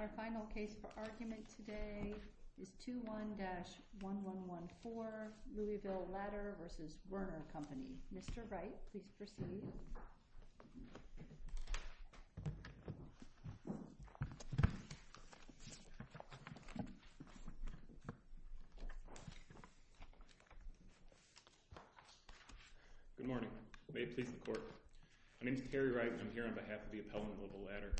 Our final case for argument today is 2-1-1114, Louisville Ladder v. Werner Company. Mr. Wright, please proceed. Good morning. May it please the Court. My name is Terry Wright and I'm here on behalf of the appellant Louisville Ladder.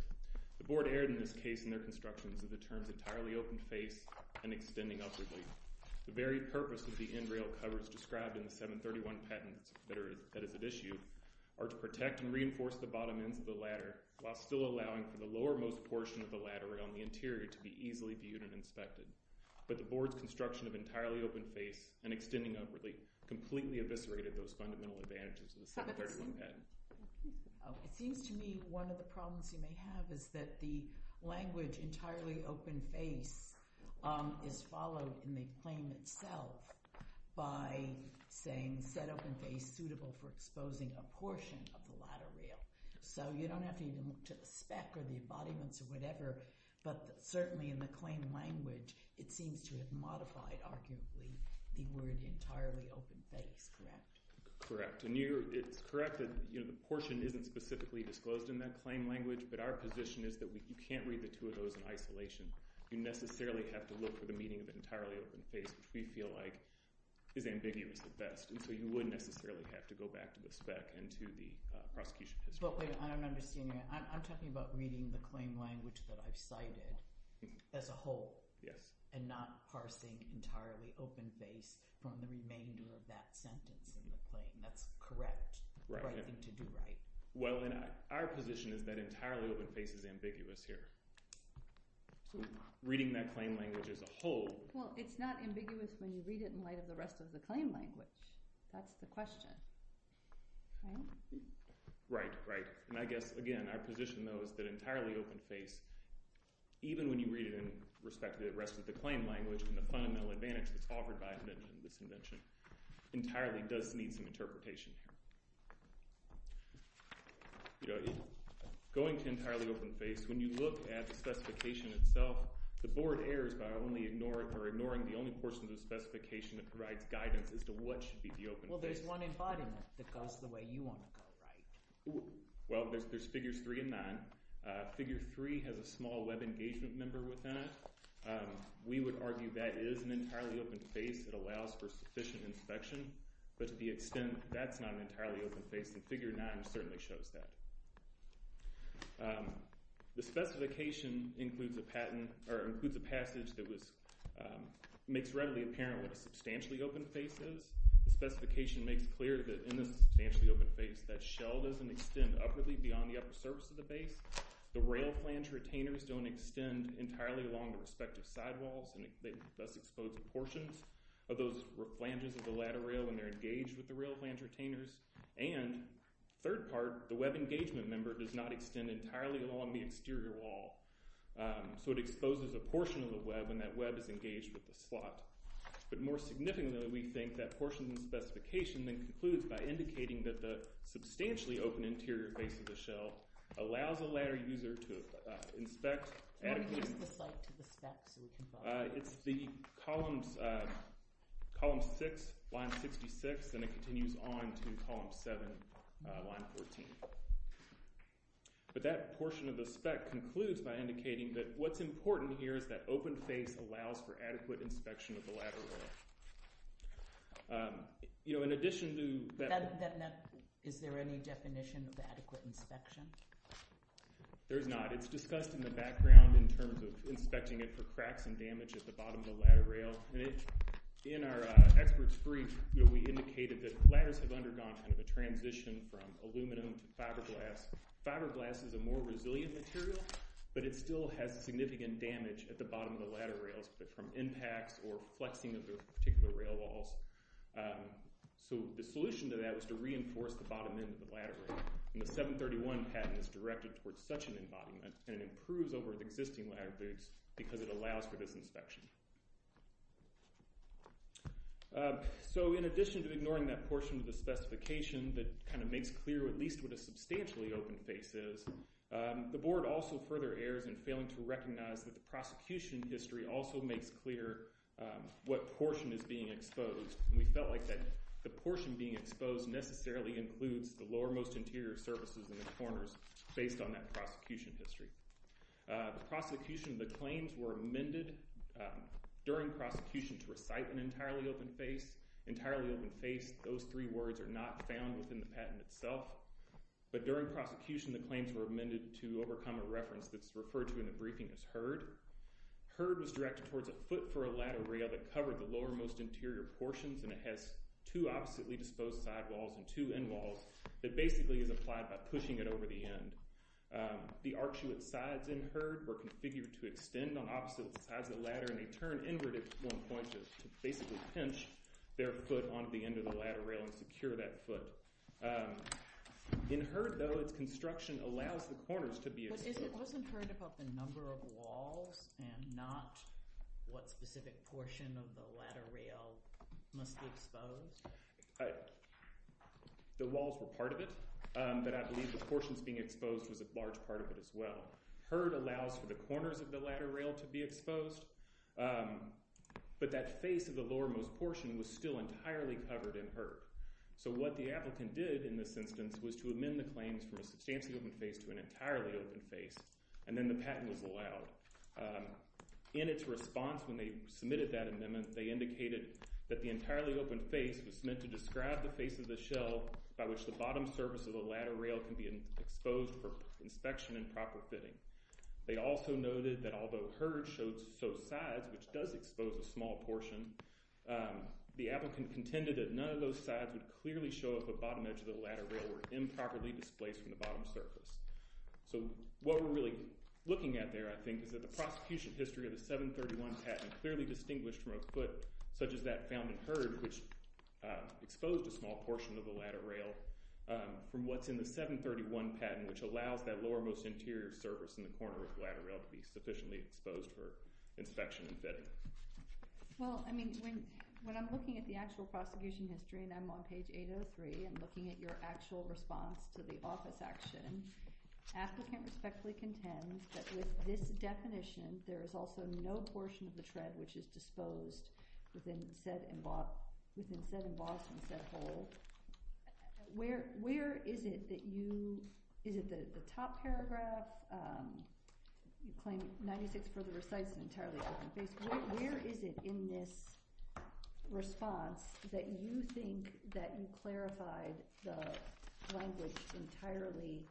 The board erred in this case in their constructions as it turns an entirely open face and extending upwardly. The very purpose of the end rail covers described in the 731 patent that is at issue are to protect and reinforce the bottom ends of the ladder while still allowing for the lowermost portion of the ladder rail in the interior to be easily viewed and inspected. But the board's construction of an entirely open face and extending upwardly completely eviscerated those fundamental advantages of the 731 patent. It seems to me one of the problems you may have is that the language entirely open face is followed in the claim itself by saying set open face suitable for exposing a portion of the ladder rail. So you don't have to even look to the spec or the embodiments or whatever. But certainly in the claim language, it seems to have modified, arguably, the word entirely open face. Correct? Correct. And it's correct that the portion isn't specifically disclosed in that claim language. But our position is that we can't read the two of those in isolation. You necessarily have to look for the meaning of entirely open face, which we feel like is ambiguous at best. And so you wouldn't necessarily have to go back to the spec and to the prosecution. I don't understand. I'm talking about reading the claim language that I've cited as a whole. Yes. And not parsing entirely open face from the remainder of that sentence. That's correct. Right. Well, our position is that entirely open face is ambiguous here. Reading that claim language as a whole. Well, it's not ambiguous when you read it in light of the rest of the claim language. That's the question. Right? Right. Right. And I guess, again, our position, though, is that entirely open face, even when you read it in respect to the rest of the claim language and the fundamental advantage that's offered by this invention, entirely does need some interpretation. Going to entirely open face, when you look at the specification itself, the board errs by only ignoring or ignoring the only portion of the specification that provides guidance as to what should be the open face. Well, there's one embodiment that goes the way you want to go, right? Well, there's figures three and nine. Figure three has a small web engagement member within it. We would argue that is an entirely open face that allows for sufficient inspection. But to the extent that's not an entirely open face, the figure nine certainly shows that. The specification includes a passage that makes readily apparent what a substantially open face is. The specification makes clear that in a substantially open face, that shell doesn't extend upwardly beyond the upper surface of the face. The rail flange retainers don't extend entirely along the respective sidewalls, and thus expose the portions of those flanges of the ladder rail when they're engaged with the rail flange retainers. And, third part, the web engagement member does not extend entirely along the exterior wall. So it exposes a portion of the web when that web is engaged with the slot. But more significantly, we think that portion of the specification then concludes by indicating that the substantially open interior face of the shell allows a ladder user to inspect... It's the column six, line 66, and it continues on to column seven, line 14. But that portion of the spec concludes by indicating that what's important here is that open face allows for adequate inspection of the ladder rail. You know, in addition to... Is there any definition of adequate inspection? There's not. It's discussed in the background in terms of inspecting it for cracks and damage at the bottom of the ladder rail. And in our experts' brief, we indicated that ladders have undergone kind of a transition from aluminum to fiberglass. Fiberglass is a more resilient material, but it still has significant damage at the bottom of the ladder rails, from impacts or flexing of the particular rail walls. So the solution to that was to reinforce the bottom end of the ladder rail. And the 731 patent is directed towards such an embodiment, and it improves over existing ladder rails because it allows for this inspection. So in addition to ignoring that portion of the specification that kind of makes clear at least what a substantially open face is, the board also further errors in failing to recognize that the prosecution history also makes clear what portion is being exposed. And we felt like that the portion being exposed necessarily includes the lowermost interior surfaces in the corners based on that prosecution history. The prosecution, the claims were amended during prosecution to recite an entirely open face. Entirely open face, those three words are not found within the patent itself. But during prosecution, the claims were amended to overcome a reference that's referred to in the briefing as heard. Heard was directed towards a foot for a ladder rail that covered the lowermost interior portions, and it has two oppositely disposed sidewalls and two endwalls that basically is applied by pushing it over the end. The arched sides in heard were configured to extend on opposite sides of the ladder, and they turn inward at one point to basically pinch their foot onto the end of the ladder rail and secure that foot. In heard, though, its construction allows the corners to be exposed. It wasn't heard about the number of walls and not what specific portion of the ladder rail must be exposed? The walls were part of it, but I believe the portions being exposed was a large part of it as well. Heard allows for the corners of the ladder rail to be exposed, but that face of the lowermost portion was still entirely covered in heard. So what the applicant did in this instance was to amend the claims from a substantially open face to an entirely open face, and then the patent was allowed. In its response when they submitted that amendment, they indicated that the entirely open face was meant to describe the face of the shell by which the bottom surface of the ladder rail can be exposed for inspection and proper fitting. They also noted that although heard showed so sides, which does expose a small portion, the applicant contended that none of those sides would clearly show up at the bottom edge of the ladder rail or improperly displaced from the bottom surface. So what we're really looking at there, I think, is that the prosecution history of the 731 patent clearly distinguished from a foot such as that found in heard, which exposed a small portion of the ladder rail, from what's in the 731 patent, which allows that lowermost interior surface in the corner of the ladder rail to be sufficiently exposed for inspection and fitting. Well, I mean, when I'm looking at the actual prosecution history and I'm on page 803 and looking at your actual response to the office action, applicant respectfully contends that with this definition there is also no portion of the tread which is disposed within said embossed and said hole. Where is it that you, is it that at the top paragraph, you claim 96 further recites an entirely open face, where is it in this response that you think that you clarified the language entirely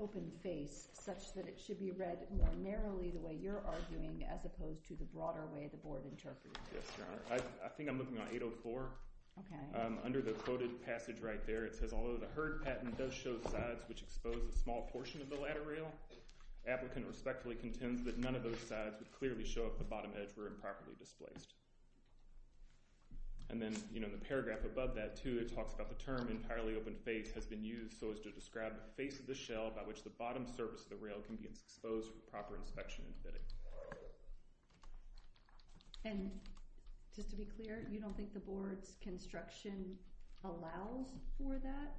open face such that it should be read more narrowly the way you're arguing as opposed to the broader way the board interpreted it? Yes, Your Honor. I think I'm looking on 804. Okay. Under the quoted passage right there, it says, although the HERD patent does show sides which expose a small portion of the ladder rail, applicant respectfully contends that none of those sides would clearly show up the bottom edge were improperly displaced. And then, you know, the paragraph above that, too, it talks about the term entirely open face has been used so as to describe the face of the shell by which the bottom surface of the rail can be exposed for proper inspection and fitting. And just to be clear, you don't think the board's construction allows for that?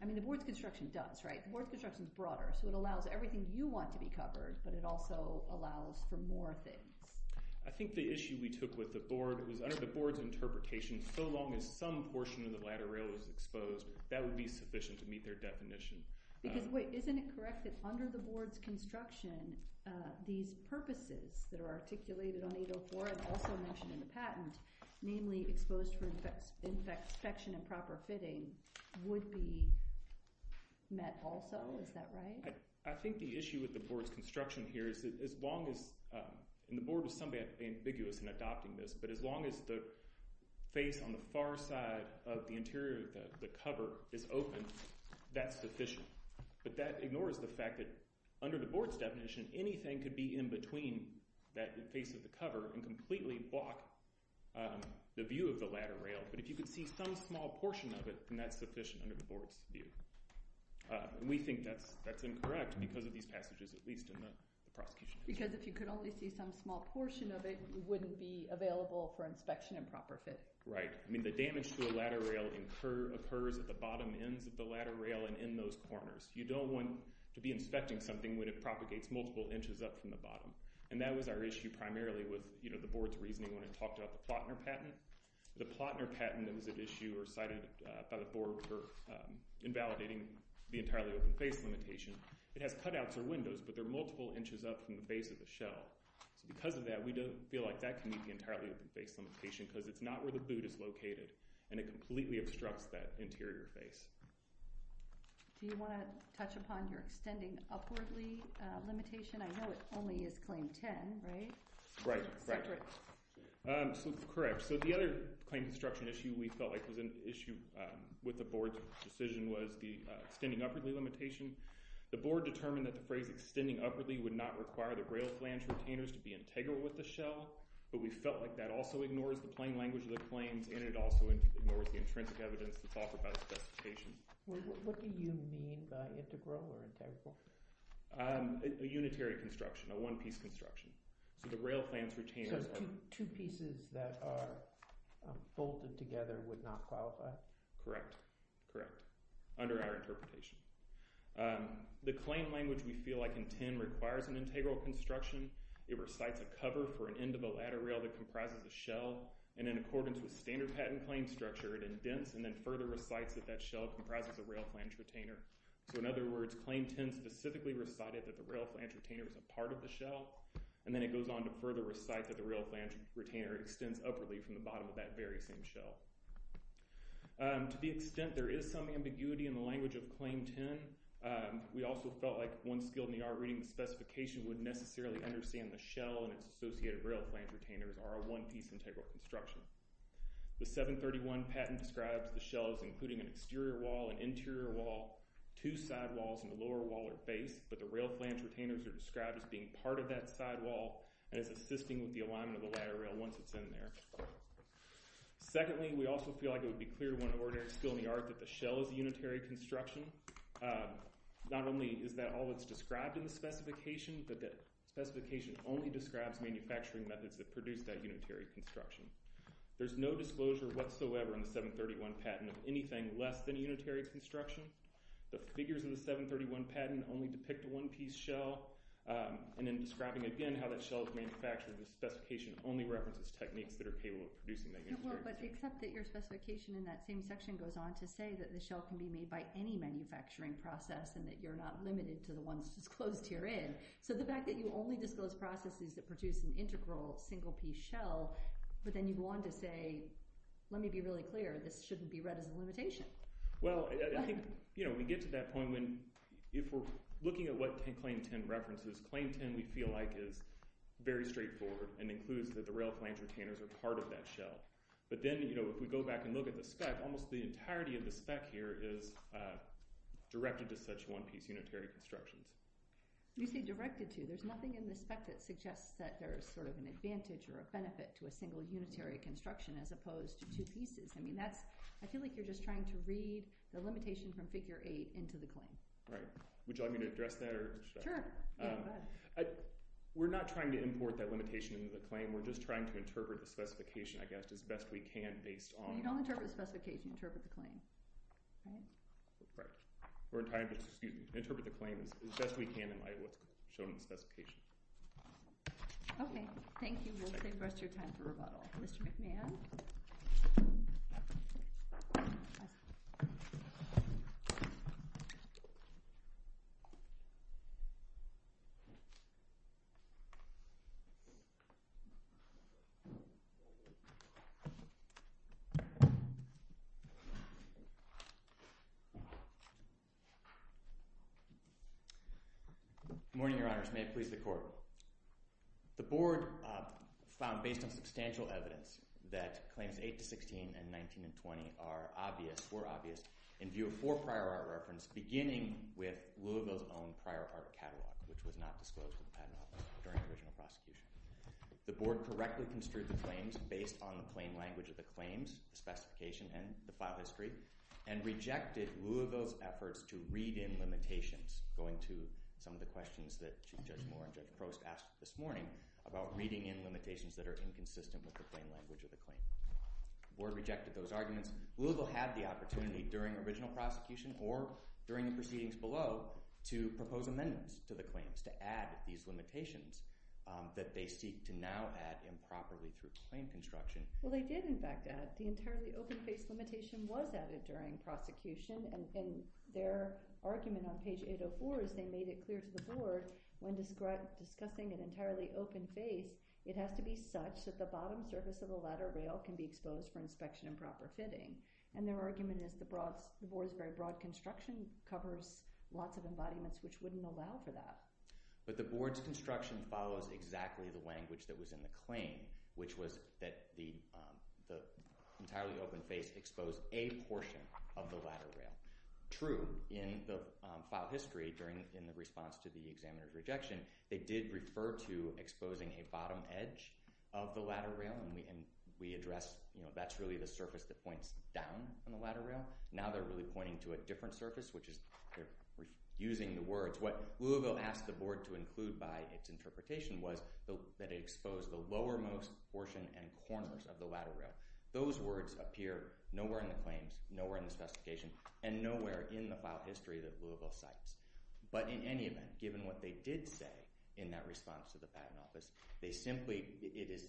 I mean, the board's construction does, right? The board's construction is broader, so it allows everything you want to be covered, but it also allows for more things. I think the issue we took with the board was under the board's interpretation, so long as some portion of the ladder rail is exposed, that would be sufficient to meet their definition. Because, wait, isn't it correct that under the board's construction, these purposes that are articulated on 804 and also mentioned in the patent, namely exposed for inspection and proper fitting, would be met also? Is that right? I think the issue with the board's construction here is that as long as, and the board was in some way ambiguous in adopting this, but as long as the face on the far side of the interior of the cover is open, that's sufficient. But that ignores the fact that under the board's definition, anything could be in between that face of the cover and completely block the view of the ladder rail. But if you could see some small portion of it, then that's sufficient under the board's view. And we think that's incorrect because of these passages, at least in the prosecution. Because if you could only see some small portion of it, it wouldn't be available for inspection and proper fit. Right. I mean, the damage to a ladder rail occurs at the bottom ends of the ladder rail and in those corners. You don't want to be inspecting something when it propagates multiple inches up from the bottom. And that was our issue primarily with the board's reasoning when it talked about the Plotner patent. The Plotner patent was an issue cited by the board for invalidating the entirely open face limitation. It has cutouts or windows, but they're multiple inches up from the face of the shell. So because of that, we don't feel like that can meet the entirely open face limitation because it's not where the boot is located and it completely obstructs that interior face. Do you want to touch upon your extending upwardly limitation? I know it only is Claim 10, right? Right. Separate. Correct. So the other claim construction issue we felt like was an issue with the board's decision was the extending upwardly limitation. The board determined that the phrase extending upwardly would not require the rail flange retainers to be integral with the shell, but we felt like that also ignores the plain language of the claims and it also ignores the intrinsic evidence that's offered by the specification. What do you mean by integral or integral? A unitary construction, a one-piece construction. So the rail flange retainers are... So two pieces that are bolted together would not qualify? Correct. Correct. Under our interpretation. The claim language we feel like in 10 requires an integral construction. It recites a cover for an end of a ladder rail that comprises a shell, and in accordance with standard patent claim structure, it indents and then further recites that that shell comprises a rail flange retainer. So in other words, Claim 10 specifically recited that the rail flange retainer was a part of the shell, and then it goes on to further recite that the rail flange retainer extends upwardly from the bottom of that very same shell. To the extent there is some ambiguity in the language of Claim 10, we also felt like one skilled in the art reading the specification would necessarily understand the shell and its associated rail flange retainers are a one-piece integral construction. The 731 patent describes the shell as including an exterior wall, an interior wall, two side walls, and a lower wall or base, but the rail flange retainers are described as being part of that side wall and as assisting with the alignment of the ladder rail once it's in there. Secondly, we also feel like it would be clear to one ordinary skilled in the art that the shell is a unitary construction. Not only is that all that's described in the specification, but that specification only describes manufacturing methods that produce that unitary construction. There's no disclosure whatsoever in the 731 patent of anything less than a unitary construction. The figures in the 731 patent only depict a one-piece shell, and in describing again how that shell is manufactured, the specification only references techniques that are capable of producing that unitary construction. Except that your specification in that same section goes on to say that the shell can be made by any manufacturing process and that you're not limited to the ones disclosed herein. So the fact that you only disclose processes that produce an integral, single-piece shell, but then you go on to say, let me be really clear, this shouldn't be read as a limitation. Well, I think we get to that point when, if we're looking at what Claim 10 references, Claim 10 we feel like is very straightforward and includes that the rail flange retainers are part of that shell. But then if we go back and look at the spec, almost the entirety of the spec here is directed to such one-piece unitary construction. You say directed to. There's nothing in the spec that suggests that there's sort of an advantage or a benefit to a single unitary construction as opposed to two pieces. I feel like you're just trying to read the limitation from Figure 8 into the claim. Right. Would you like me to address that? Sure. Go ahead. We're not trying to import that limitation into the claim. We're just trying to interpret the specification, I guess, as best we can based on… You don't interpret the specification. You interpret the claim. Right. We're trying to interpret the claim as best we can in light of what's shown in the specification. Okay. Thank you. We'll save the rest of your time for rebuttal. Mr. McNair? Good morning, Your Honors. May it please the Court. The Board found, based on substantial evidence, that Claims 8 to 16 and 19 and 20 are obvious, were obvious, in view of four prior art references, beginning with Louisville's own prior art catalog, which was not disclosed to the Patent Office during the original prosecution. The Board correctly construed the claims based on the plain language of the claims, the specification, and the file history, and rejected Louisville's efforts to read in limitations, going to some of the questions that Judge Moore and Judge Prost asked this morning about reading in limitations that are inconsistent with the plain language of the claim. The Board rejected those arguments. Louisville had the opportunity during the original prosecution or during the proceedings below to propose amendments to the claims, to add these limitations that they seek to now add improperly to its claim construction. Well, they did, in fact, add. The entirely open-faced limitation was added during prosecution, and their argument on page 804 is they made it clear to the Board when discussing an entirely open face, it has to be such that the bottom surface of the ladder rail can be exposed for inspection and proper fitting. And their argument is the Board's very broad construction covers lots of embodiments which wouldn't allow for that. But the Board's construction follows exactly the language that was in the claim, which was that the entirely open face exposed a portion of the ladder rail. True, in the file history, in the response to the examiner's rejection, they did refer to exposing a bottom edge of the ladder rail, and we address that's really the surface that points down on the ladder rail. Now they're really pointing to a different surface, which is using the words. What Louisville asked the Board to include by its interpretation was that it exposed the lowermost portion and corners of the ladder rail. Those words appear nowhere in the claims, nowhere in the specification, and nowhere in the file history that Louisville cites. But in any event, given what they did say in that response to the Patent Office, they simply... it is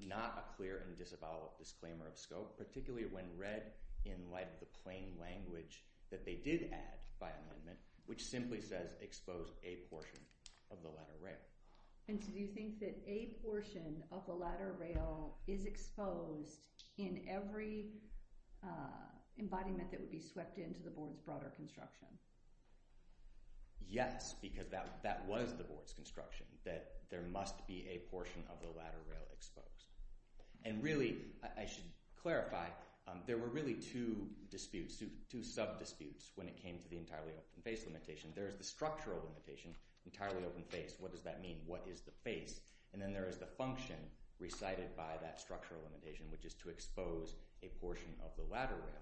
not a clear and disavowal disclaimer of scope, particularly when read in light of the plain language that they did add by amendment, which simply says expose a portion of the ladder rail. And so do you think that a portion of the ladder rail is exposed in every embodiment that would be swept into the Board's broader construction? Yes, because that was the Board's construction, that there must be a portion of the ladder rail exposed. And really, I should clarify, there were really two disputes, two sub-disputes, when it came to the entirely open face limitation. There is the structural limitation, entirely open face. What does that mean? What is the face? And then there is the function recited by that structural limitation, which is to expose a portion of the ladder rail.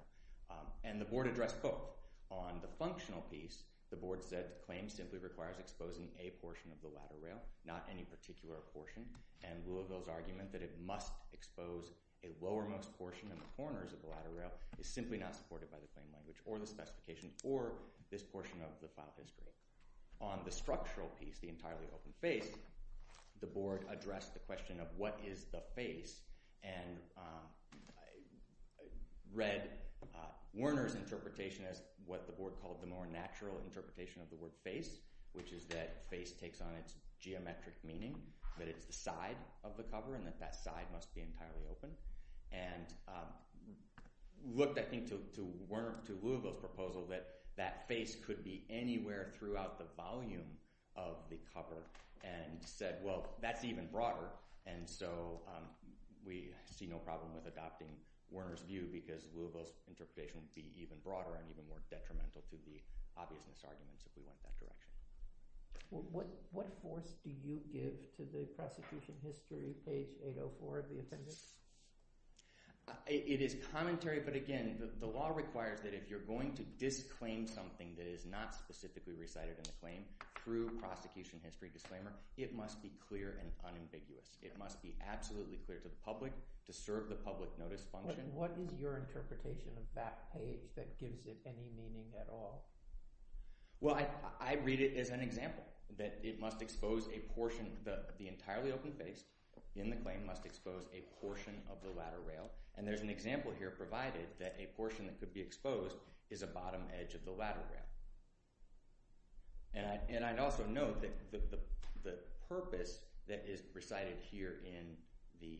And the Board addressed both. On the functional piece, the Board said the claim simply requires exposing a portion of the ladder rail, not any particular portion. And Louisville's argument that it must expose a lowermost portion in the corners of the ladder rail is simply not supported by the claim language or the specification or this portion of the file history. On the structural piece, the entirely open face, the Board addressed the question of what is the face and read Werner's interpretation as what the Board called the more natural interpretation of the word face, which is that face takes on its geometric meaning, that it's the side of the cover, and that that side must be entirely open. And looked, I think, to Louisville's proposal that that face could be anywhere throughout the volume of the cover and said, well, that's even broader. And so we see no problem with adopting Werner's view because Louisville's interpretation would be even broader and even more detrimental to the obviousness arguments if we went that direction. What voice do you give to the prosecution history, page 804 of the appendix? It is commentary, but again, the law requires that if you're going to disclaim something that is not specifically recited in the claim through prosecution history disclaimer, it must be clear and unambiguous. It must be absolutely clear to the public to serve the public notice function. What is your interpretation of that page that gives it any meaning at all? Well, I read it as an example, that it must expose a portion, the entirely open face in the claim must expose a portion of the ladder rail. And there's an example here provided that a portion that could be exposed is a bottom edge of the ladder rail. And I'd also note that the purpose that is recited here in the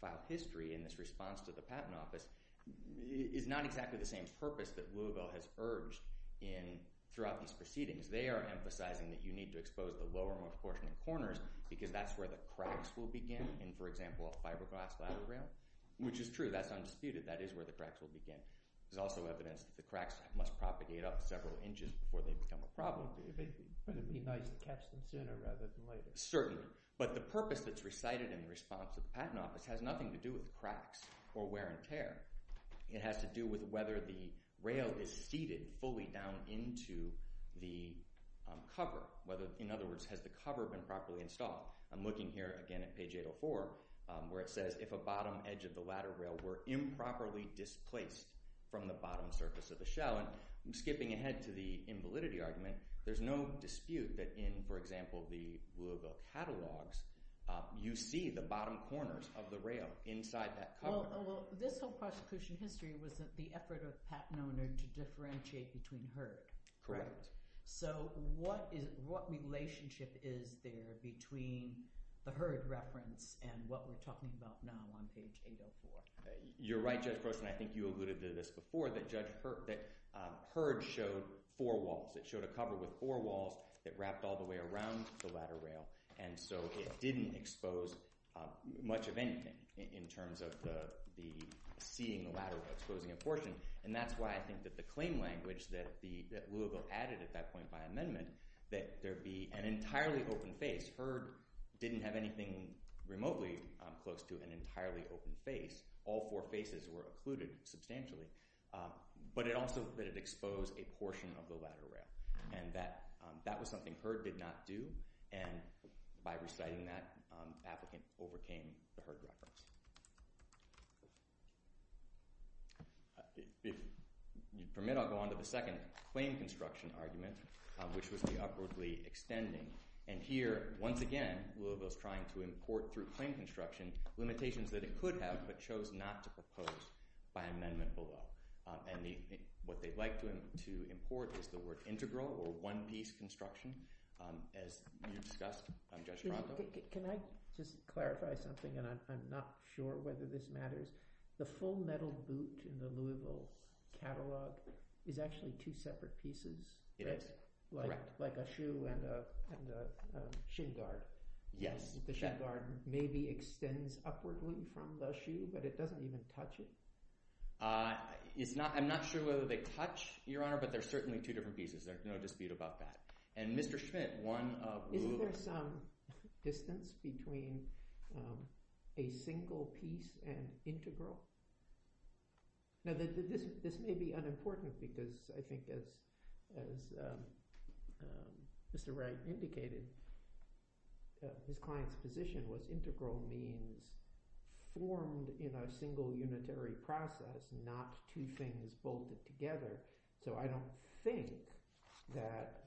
file history in this response to the Patent Office is not exactly the same purpose that Louisville has urged throughout these proceedings. They are emphasizing that you need to expose the lower and more proportionate corners because that's where the cracks will begin in, for example, a fiberglass ladder rail, which is true, that's undisputed, that is where the cracks will begin. There's also evidence that the cracks must propagate up several inches before they become a problem. But the purpose that's recited in the response to the Patent Office has nothing to do with cracks or wear and tear. It has to do with whether the rail is seated fully down into the cover. In other words, has the cover been properly installed? I'm looking here again at page 804 where it says if a bottom edge of the ladder rail were improperly displaced from the bottom surface of the shell. And skipping ahead to the invalidity argument, there's no dispute that in, for example, the Louisville catalogs, you see the bottom corners of the rail inside that cover. This whole prosecution history was the effort of Pat Noner to differentiate between Hurd. So what relationship is there between the Hurd reference and what we're talking about now on page 804? You're right, Judge Grossman, I think you alluded to this before, that Hurd showed four walls. It showed a cover with four walls that wrapped all the way around the ladder rail, and so it didn't expose much of anything in terms of seeing the ladder rail exposing a portion. And that's why I think that the claim language that Louisville added at that point by amendment, that there be an entirely open face. Hurd didn't have anything remotely close to an entirely open face. All four faces were occluded substantially. But also that it exposed a portion of the ladder rail. And that was something Hurd did not do, and by reciting that, the applicant overcame the Hurd reference. If you permit, I'll go on to the second claim construction argument, which was the upwardly extending. And here, once again, Louisville's trying to import through claim construction limitations that it could have, but chose not to propose by amendment below. And what they'd like to import is the word integral, or one-piece construction, as you discussed, Judge Ronto. Can I just clarify something, and I'm not sure whether this matters. The full metal boot in the Louisville catalog is actually two separate pieces. It is. Like a shoe and a shin guard. Yes. The shin guard maybe extends upwardly from the shoe, but it doesn't even touch it. I'm not sure whether they touch, Your Honor, but they're certainly two different pieces. There's no dispute about that. And Mr. Schmidt, one of Louisville's... Isn't there some distance between a single piece and integral? Now, this may be unimportant, because I think, as Mr. Wright indicated, his client's position was integral means formed in a single unitary process, not two things bolted together. So I don't think that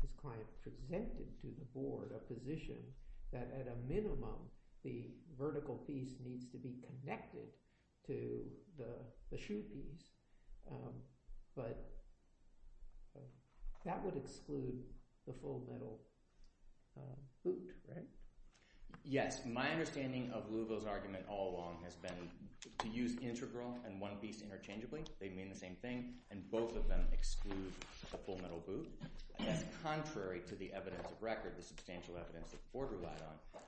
his client presented to the board a position that, at a minimum, the vertical piece needs to be connected to the shoe piece. But that would exclude the full metal boot, right? Yes. My understanding of Louisville's argument all along has been to use integral and one piece interchangeably. They mean the same thing, and both of them exclude the full metal boot. That's contrary to the evidence of record, the substantial evidence that the board relied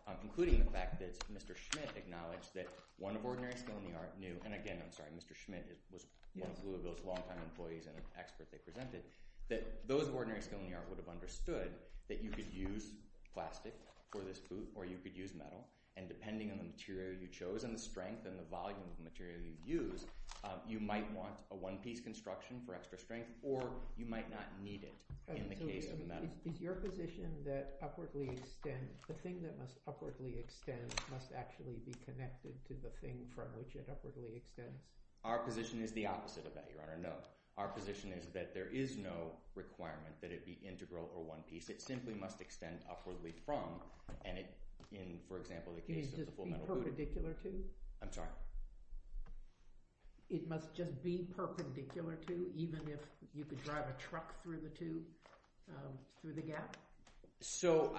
on, including the fact that Mr. Schmidt acknowledged that one of ordinary skill in the art knew... And again, I'm sorry. Mr. Schmidt was one of Louisville's longtime employees and an expert they presented, that those of ordinary skill in the art would have understood that you could use plastic for this boot or you could use metal, and depending on the material you chose and the strength and the volume of the material you used, you might want a one-piece construction for extra strength or you might not need it in the case of metal. Is your position that the thing that must upwardly extend must actually be connected to the thing from which it upwardly extends? Our position is the opposite of that, Your Honor, no. Our position is that there is no requirement that it be integral or one piece. It simply must extend upwardly from, and in, for example, the case of the full metal boot... Perpendicular to? I'm sorry? It must just be perpendicular to, even if you could drive a truck through the gap? So,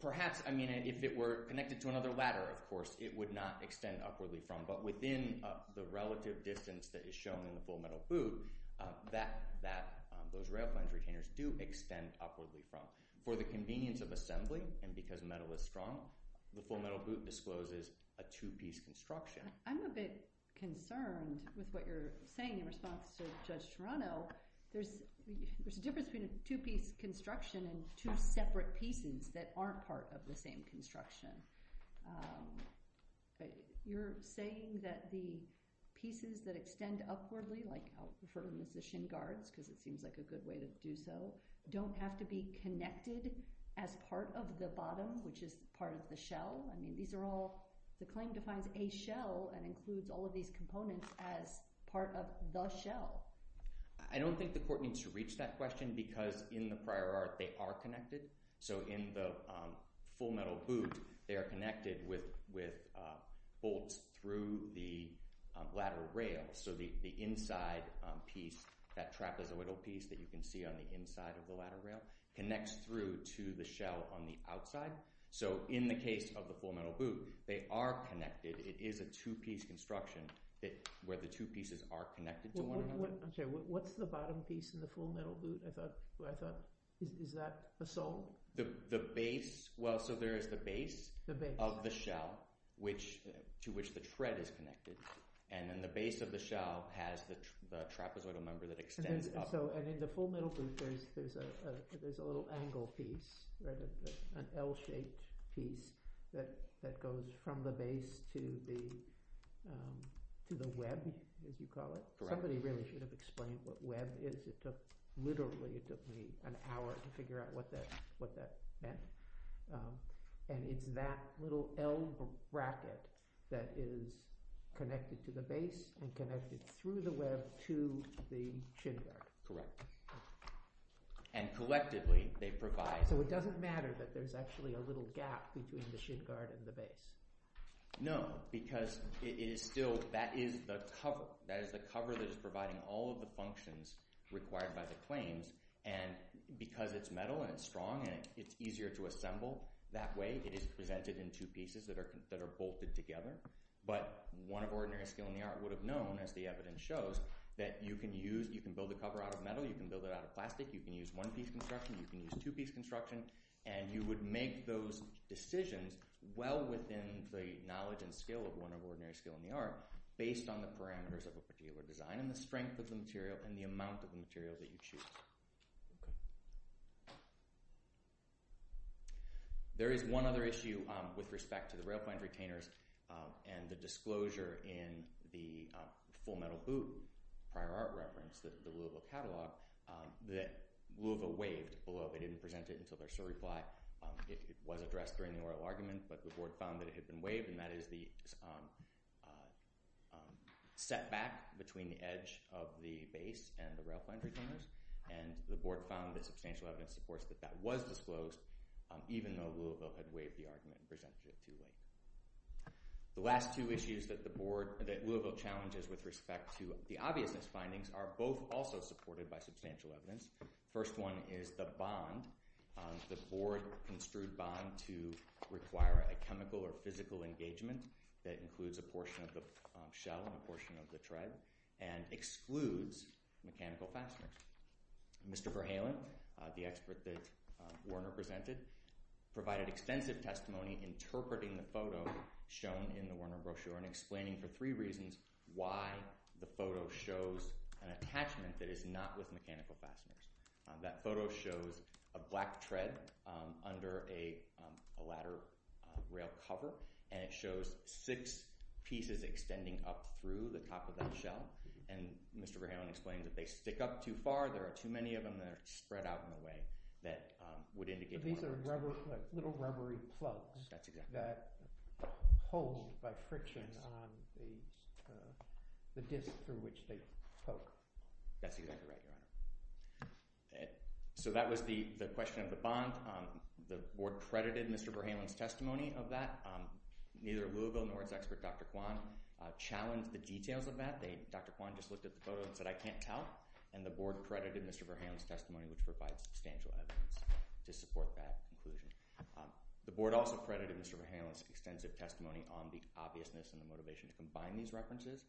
perhaps, I mean, if it were connected to another ladder, of course, it would not extend upwardly from, but within the relative distance that is shown in the full metal boot, that those rail plans retainers do extend upwardly from. For the convenience of assembly and because metal is strong, the full metal boot discloses a two-piece construction. I'm a bit concerned with what you're saying in response to Judge Toronto. There's a difference between a two-piece construction and two separate pieces that aren't part of the same construction. But you're saying that the pieces that extend upwardly, like, I'll refer to them as the shin guards because it seems like a good way to do so, don't have to be connected as part of the bottom, which is part of the shell? I mean, these are all, the claim defines a shell and includes all of these components as part of the shell. I don't think the court needs to reach that question because in the prior art, they are connected. So, in the full metal boot, they are connected with bolts through the lateral rail. So, the inside piece, that trapezoidal piece that you can see on the inside of the lateral rail, connects through to the shell on the outside. So, in the case of the full metal boot, they are connected. It is a two-piece construction where the two pieces are connected to one another. I'm sorry, what's the bottom piece in the full metal boot? I thought, is that the sole? The base, well, so there is the base of the shell to which the tread is connected. And then the base of the shell has the trapezoidal member that extends up. So, in the full metal boot, there is a little angle piece, an L-shaped piece that goes from the base to the web, as you call it. Somebody really should have explained what web is. It took, literally, it took me an hour to figure out what that meant. And it's that little L bracket that is connected to the base and connected through the web to the shin guard. Correct. And collectively, they provide... So, it doesn't matter that there's actually a little gap between the shin guard and the base. No, because it is still, that is the cover. That is the cover that is providing all of the functions required by the claims. And because it's metal and it's strong and it's easier to assemble that way, it is presented in two pieces that are bolted together. But one of ordinary skill in the art would have known, as the evidence shows, that you can use, you can build a cover out of metal, you can build it out of plastic, you can use one-piece construction, you can use two-piece construction, and you would make those decisions well within the knowledge and skill of one of ordinary skill in the art based on the parameters of a particular design and the strength of the material and the amount of the material that you choose. There is one other issue with respect to the rail-planned retainers and the disclosure in the Full Metal Boot prior art reference, the Louisville catalog, that Louisville waived, although they didn't present it until their certified. It was addressed during the oral argument, but the board found that it had been waived, and that is the setback between the edge of the base and the rail-planned retainers. And the board found that substantial evidence supports that that was disclosed, even though Louisville had waived the argument and presented it too late. The last two issues that Louisville challenges with respect to the obviousness findings are both also supported by substantial evidence. The first one is the bond, the board construed bond to require a chemical or physical engagement that includes a portion of the shell and a portion of the tread and excludes mechanical fasteners. Mr. Verhalen, the expert that Werner presented, provided extensive testimony interpreting the photo shown in the Werner brochure and explaining for three reasons why the photo shows an attachment that is not with mechanical fasteners. That photo shows a black tread under a ladder rail cover, and it shows six pieces extending up through the top of that shell. And Mr. Verhalen explained that they stick up too far, there are too many of them that are spread out in a way that would indicate... These are rubber, little rubbery plugs. That's exactly right. That hold by friction on the disc through which they poke. That's exactly right, Your Honor. So that was the question of the bond. The board credited Mr. Verhalen's testimony of that. Neither Louisville nor its expert, Dr. Kwan, challenged the details of that. Dr. Kwan just looked at the photo and said, I can't tell. And the board credited Mr. Verhalen's testimony which provides substantial evidence to support that conclusion. The board also credited Mr. Verhalen's extensive testimony on the obviousness and the motivation to combine these references.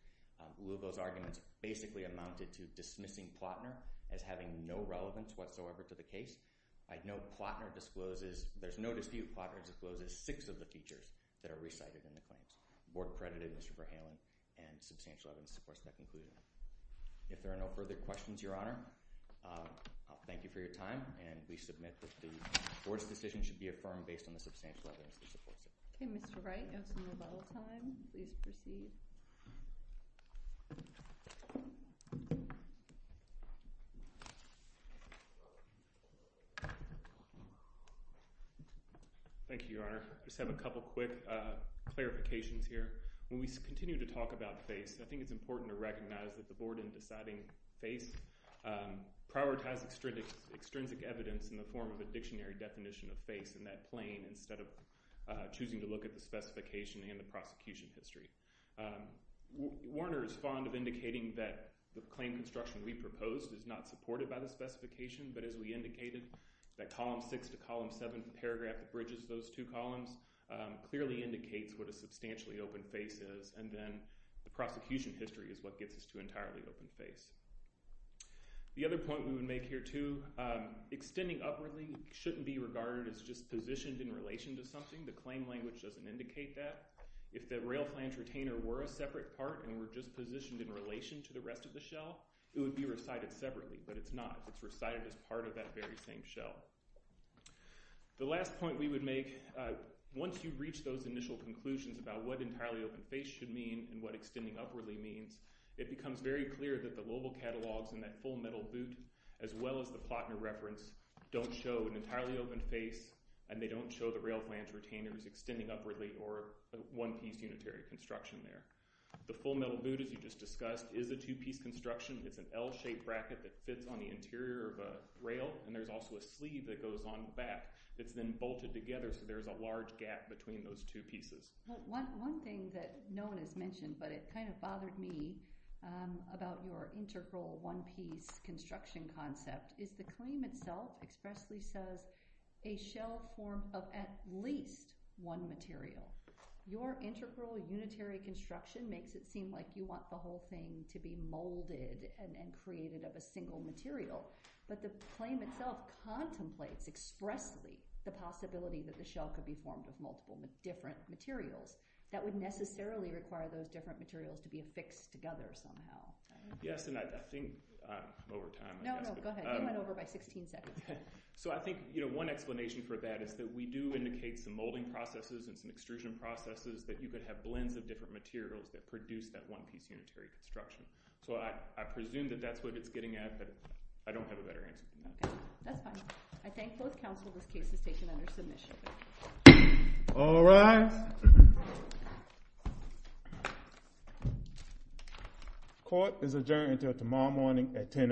Louisville's arguments basically amounted to dismissing Plotner as having no relevance whatsoever to the case. I know Plotner discloses, there's no dispute, Plotner discloses six of the features that are recited in the claims. The board credited Mr. Verhalen and substantial evidence supports that conclusion. If there are no further questions, Your Honor, I'll thank you for your time. And we submit that the board's decision should be affirmed based on the substantial evidence that supports it. OK, Mr. Wright, you have some rebuttal time. Please proceed. Thank you, Your Honor. Just have a couple quick clarifications here. When we continue to talk about face, I think it's important to recognize that the board in deciding face prioritized extrinsic evidence in the form of a dictionary definition of face in that plane instead of choosing to look at the specification and the prosecution history. Warner is fond of indicating that the claim construction we proposed is not supported by the specification, but as we indicated, that column six to column seven paragraph that bridges those two columns clearly indicates what a substantially open face is, and then the prosecution history is what gets us to entirely open face. The other point we would make here, too, extending upwardly shouldn't be regarded as just positioned in relation to something. The claim language doesn't indicate that. If the rail plant retainer were a separate part and were just positioned in relation to the rest of the shell, it would be recited separately. But it's not. It's recited as part of that very same shell. The last point we would make, once you've reached those initial conclusions about what entirely open face should mean and what extending upwardly means, it becomes very clear that the Lobel catalogs and that full metal boot, as well as the Plotner reference, don't show an entirely open face, and they don't show the rail plant retainers extending upwardly or a one-piece unitary construction there. The full metal boot, as you just discussed, is a two-piece construction. It's an L-shaped bracket that fits on the interior of a rail, and there's also a sleeve that goes on the back. It's then bolted together, so there's a large gap between those two pieces. One thing that no one has mentioned, but it kind of bothered me about your integral one-piece construction concept, is the claim itself expressly says a shell form of at least one material. Your integral unitary construction makes it seem like you want the whole thing to be molded and created of a single material. But the claim itself contemplates expressly the possibility that the shell could be formed with multiple different materials. That would necessarily require those different materials to be affixed together somehow. Yes, and I think I'm over time. No, no, go ahead. You went over by 16 seconds. So I think one explanation for that is that we do indicate some molding processes and some extrusion processes that you could have blends of different materials that produce that one-piece unitary construction. So I presume that that's what it's getting at, but I don't have a better answer. That's fine. I thank both counsel this case is taken under submission. All rise. Court is adjourned until tomorrow morning at 10 AM.